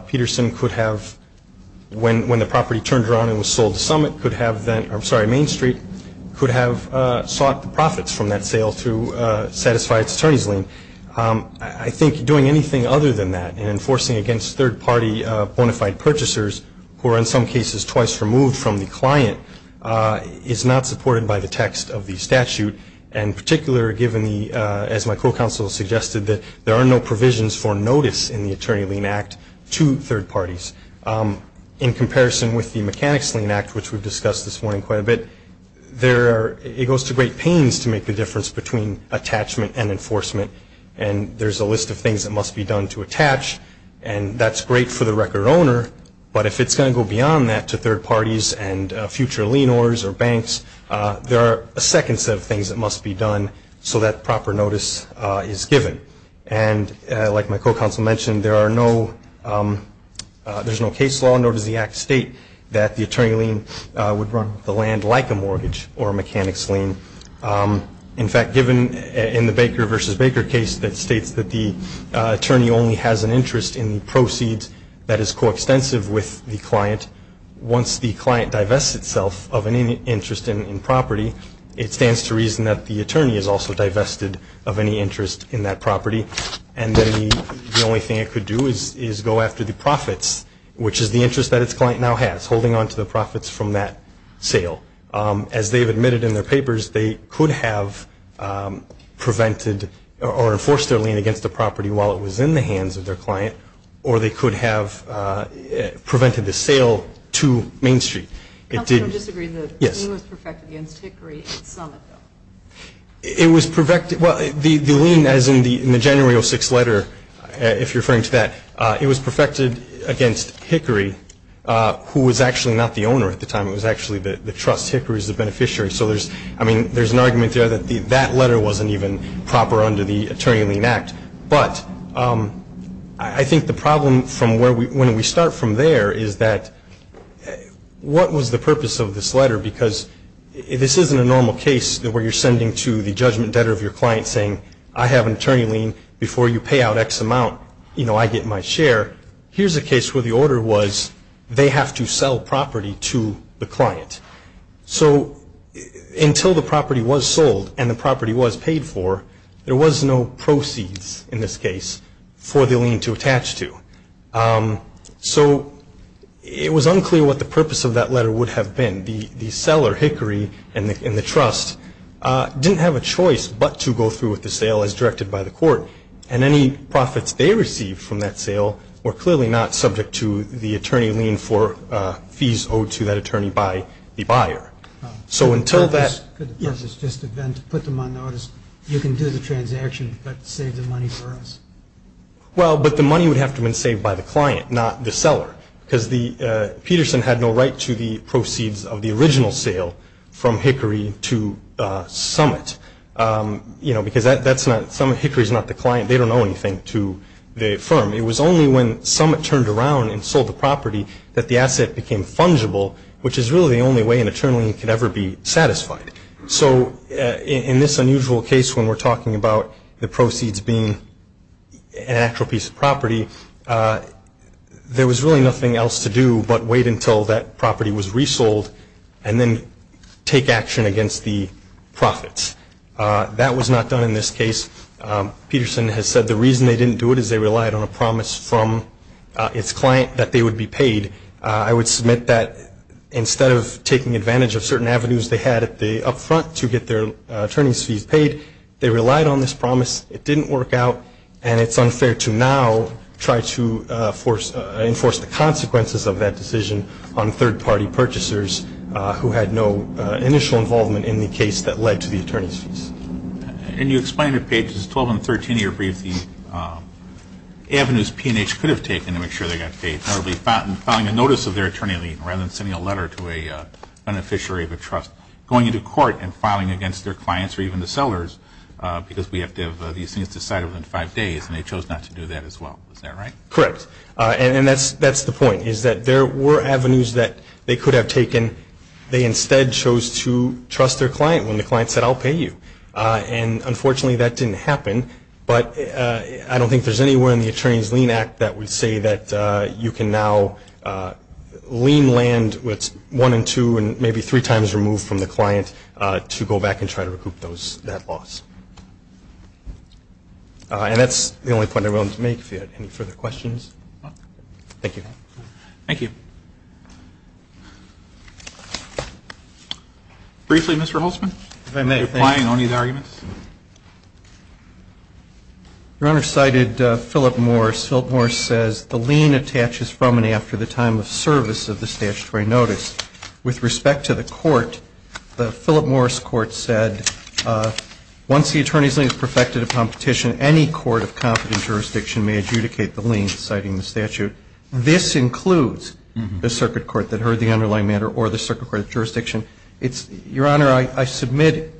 Peterson could have, when the property turned around and was sold to Main Street, could have sought the profits from that sale to satisfy its attorney's lien. I think doing anything other than that and enforcing against third party bona fide purchasers who are in some cases twice removed from the client is not supported by the text of the statute. And particularly given the, as my co-counsel suggested, that there are no provisions for notice in the Attorney Lien Act to third parties. In comparison with the Mechanics Lien Act, which we've discussed this morning quite a bit, it goes to great pains to make the difference between attachment and enforcement. And there's a list of things that must be done to attach, and that's great for the record owner. But if it's going to go beyond that to third parties and future lien orders or banks, there are a second set of things that must be done so that proper notice is given. And like my co-counsel mentioned, there's no case law, nor does the Act state that the attorney lien would run the land like a mortgage or a mechanics lien. In fact, given in the Baker v. Baker case that states that the attorney only has an interest in the proceeds that is coextensive with the client, once the client divests itself of any interest in property, it stands to reason that the attorney has also divested of any interest in that property. And then the only thing it could do is go after the profits, which is the interest that its client now has, holding onto the profits from that sale. As they've admitted in their papers, they could have prevented or enforced their lien against the property while it was in the hands of their client, or they could have prevented the sale to Main Street. Counselor, I don't disagree. The lien was perfected against Hickory at Summit, though. It was perfected. Well, the lien, as in the January 06 letter, if you're referring to that, it was perfected against Hickory, who was actually not the owner at the time. It was actually the trust. Hickory is the beneficiary. So there's an argument there that that letter wasn't even proper under the Attorney Lien Act. But I think the problem from when we start from there is that what was the purpose of this letter? Because this isn't a normal case where you're sending to the judgment debtor of your client saying, I have an attorney lien. Before you pay out X amount, you know, I get my share. Here's a case where the order was they have to sell property to the client. So until the property was sold and the property was paid for, there was no proceeds in this case for the lien to attach to. So it was unclear what the purpose of that letter would have been. The seller, Hickory and the trust, didn't have a choice but to go through with the sale as directed by the court, and any profits they received from that sale were clearly not subject to the attorney lien for fees owed to that attorney by the buyer. So until that – Could the purpose just have been to put them on notice, you can do the transaction, but save the money for us? Well, but the money would have to have been saved by the client, not the seller, because Peterson had no right to the proceeds of the original sale from Hickory to Summit. You know, because that's not – Hickory is not the client. They don't owe anything to the firm. It was only when Summit turned around and sold the property that the asset became fungible, which is really the only way an attorney lien could ever be satisfied. So in this unusual case when we're talking about the proceeds being an actual piece of property, there was really nothing else to do but wait until that property was resold and then take action against the profits. That was not done in this case. Peterson has said the reason they didn't do it is they relied on a promise from its client that they would be paid. I would submit that instead of taking advantage of certain avenues they had up front to get their attorney's fees paid, they relied on this promise, it didn't work out, and it's unfair to now try to enforce the consequences of that decision on third-party purchasers who had no initial involvement in the case that led to the attorney's fees. And you explain in pages 12 and 13 of your brief the avenues P&H could have taken to make sure they got paid, notably filing a notice of their attorney lien rather than sending a letter to a beneficiary of a trust, going into court and filing against their clients or even the sellers, because we have to have these things decided within five days, and they chose not to do that as well. Is that right? Correct. And that's the point, is that there were avenues that they could have taken. They instead chose to trust their client when the client said, I'll pay you. And unfortunately that didn't happen, but I don't think there's anywhere in the Attorney's Lien Act that would say that you can now lien land what's one and two and maybe three times removed from the client to go back and try to recoup that loss. And that's the only point I wanted to make. If you have any further questions. Thank you. Thank you. Briefly, Mr. Holtzman. If I may. Are you applying only the arguments? Your Honor, cited Philip Morris. Philip Morris says the lien attaches from and after the time of service of the statutory notice. With respect to the court, the Philip Morris court said once the attorney's lien is perfected upon petition, any court of competent jurisdiction may adjudicate the lien, citing the statute. This includes the circuit court that heard the underlying matter or the circuit court of jurisdiction. Your Honor, I submit,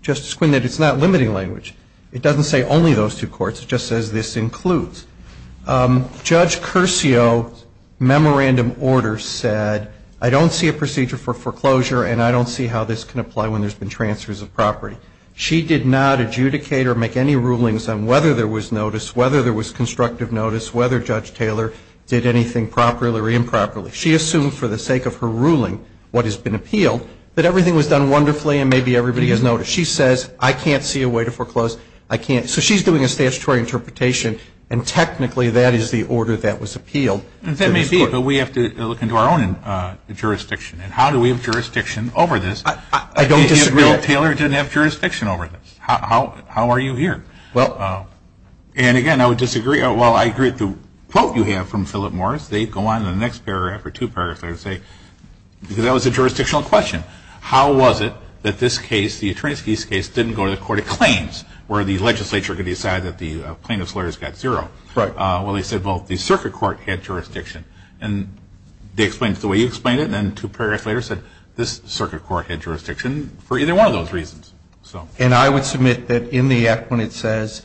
Justice Quinn, that it's not limiting language. It doesn't say only those two courts. It just says this includes. Judge Curcio's memorandum order said, I don't see a procedure for foreclosure and I don't see how this can apply when there's been transfers of property. She did not adjudicate or make any rulings on whether there was notice, whether there was constructive notice, whether Judge Taylor did anything properly or improperly. She assumed for the sake of her ruling what has been appealed that everything was done wonderfully and maybe everybody has notice. She says, I can't see a way to foreclose. I can't. So she's doing a statutory interpretation and technically that is the order that was appealed. That may be, but we have to look into our own jurisdiction. And how do we have jurisdiction over this? I don't disagree. Taylor didn't have jurisdiction over this. How are you here? And, again, I would disagree. Well, I agree with the quote you have from Philip Morris. They go on in the next paragraph or two paragraphs and say, because that was a jurisdictional question, how was it that this case, the attorneys case, didn't go to the court of claims where the legislature could decide that the plaintiff's lawyers got zero? Right. Well, they said, well, the circuit court had jurisdiction. And they explained it the way you explained it and then two paragraphs later said, this circuit court had jurisdiction for either one of those reasons. And I would submit that in the act when it says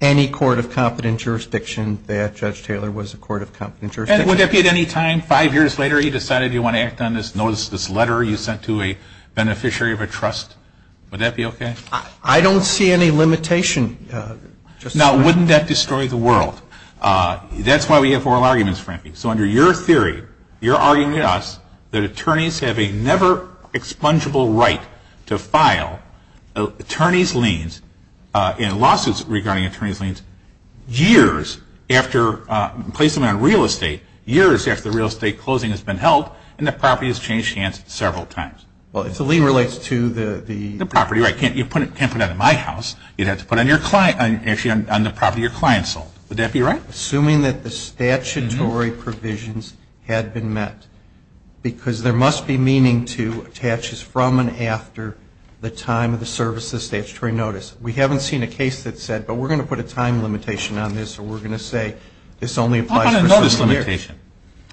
any court of competent jurisdiction, that Judge Taylor was a court of competent jurisdiction. And would that be at any time five years later he decided he wanted to act on this notice, this letter you sent to a beneficiary of a trust? Would that be okay? I don't see any limitation. Now, wouldn't that destroy the world? That's why we have oral arguments, Frankie. So under your theory, you're arguing to us that attorneys have a never expungeable right to file attorneys' liens in lawsuits regarding attorneys' liens years after placing them on real estate, years after the real estate closing has been held and the property has changed hands several times. Well, if the lien relates to the property. Right. You can't put it on my house. You'd have to put it on the property your client sold. Would that be right? Assuming that the statutory provisions had been met, because there must be meaning to attaches from and after the time of the service of statutory notice. We haven't seen a case that said, but we're going to put a time limitation on this or we're going to say this only applies for several years. How about a notice limitation?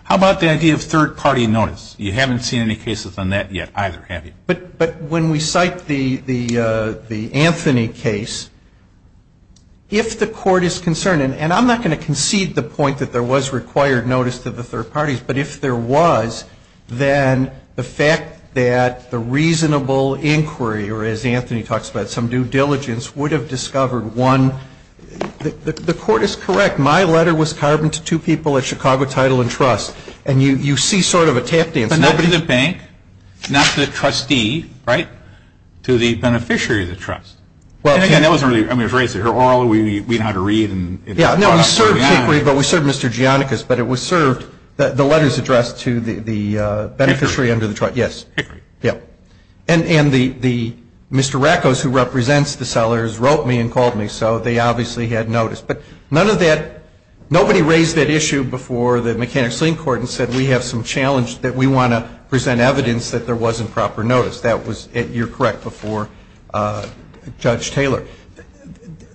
How about the idea of third-party notice? You haven't seen any cases on that yet either, have you? But when we cite the Anthony case, if the court is concerned, and I'm not going to concede the point that there was required notice to the third parties, but if there was, then the fact that the reasonable inquiry, or as Anthony talks about some due diligence, would have discovered one. The court is correct. My letter was carbon to two people at Chicago Title and Trust. And you see sort of a tap dance. But not to the bank, not to the trustee, right, to the beneficiary of the trust. And again, that wasn't really, I mean, it was raised at her oral. We know how to read. Yeah, no, we served Hickory, but we served Mr. Gianicus. But it was served, the letters addressed to the beneficiary under the trust. Hickory. Yes. Hickory. Yeah. And Mr. Rackos, who represents the sellers, wrote me and called me. So they obviously had notice. But none of that, nobody raised that issue before the Mechanic-Sling Court and said we have some challenge that we want to present evidence that there wasn't proper notice. That was, you're correct, before Judge Taylor.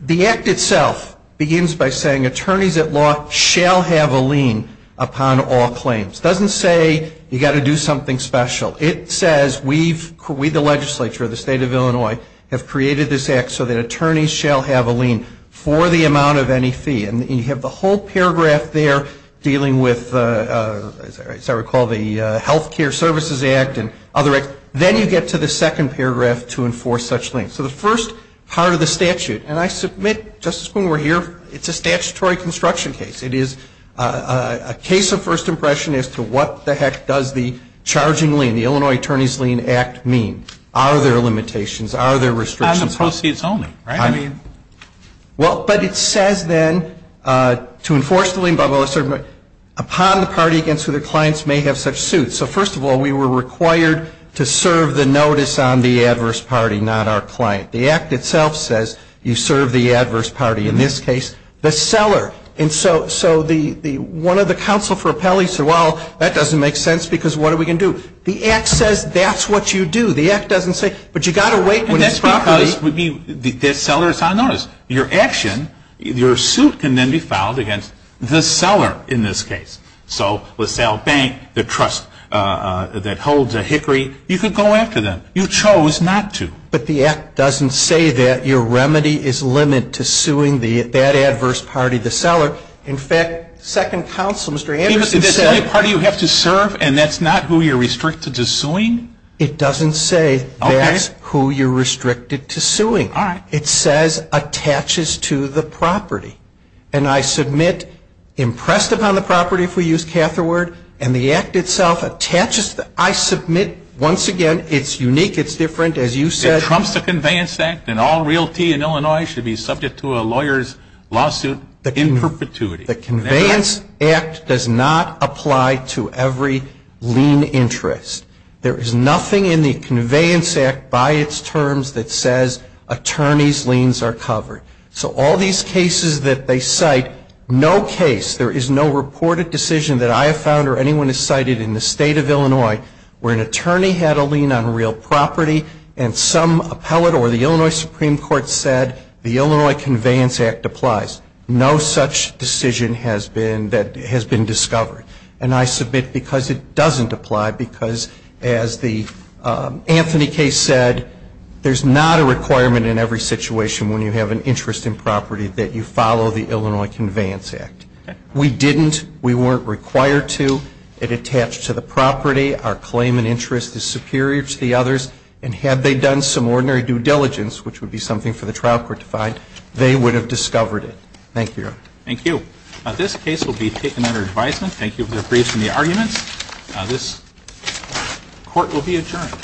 The act itself begins by saying attorneys at law shall have a lien upon all claims. It doesn't say you've got to do something special. It says we, the legislature of the State of Illinois, have created this act so that attorneys shall have a lien for the amount of any fee. And you have the whole paragraph there dealing with, as I recall, the Health Care Services Act and other acts. So then you get to the second paragraph to enforce such liens. So the first part of the statute, and I submit, Justice Kuhn, we're here. It's a statutory construction case. It is a case of first impression as to what the heck does the charging lien, the Illinois Attorneys Lien Act, mean. Are there limitations? Are there restrictions? On the proceeds only, right? I mean, well, but it says then to enforce the lien, upon the party against who their clients may have such suits. So first of all, we were required to serve the notice on the adverse party, not our client. The act itself says you serve the adverse party. In this case, the seller. And so one of the counsel for appellees said, well, that doesn't make sense because what are we going to do? The act says that's what you do. The act doesn't say, but you've got to wait when it's properly. And that's because the seller is on notice. Your action, your suit can then be filed against the seller in this case. So LaSalle Bank, the trust that holds a hickory, you can go after them. You chose not to. But the act doesn't say that your remedy is limit to suing that adverse party, the seller. In fact, second counsel, Mr. Anderson, said. Is this the only party you have to serve and that's not who you're restricted to suing? It doesn't say that's who you're restricted to suing. All right. It says attaches to the property. And I submit impressed upon the property, if we use catheter word, and the act itself attaches. I submit, once again, it's unique, it's different. As you said. It trumps the Conveyance Act and all realty in Illinois should be subject to a lawyer's lawsuit in perpetuity. The Conveyance Act does not apply to every lien interest. There is nothing in the Conveyance Act by its terms that says attorneys' liens are covered. So all these cases that they cite, no case, there is no reported decision that I have found or anyone has cited in the State of Illinois where an attorney had a lien on real property and some appellate or the Illinois Supreme Court said the Illinois Conveyance Act applies. No such decision has been discovered. And I submit because it doesn't apply because, as the Anthony case said, there's not a requirement in every situation when you have an interest in property that you follow the Illinois Conveyance Act. We didn't. We weren't required to. It attached to the property. Our claim and interest is superior to the others. And had they done some ordinary due diligence, which would be something for the trial court to find, they would have discovered it. Thank you, Your Honor. Thank you. This case will be taken under advisement. Thank you for your briefs and the arguments. This court will be adjourned. Thank you.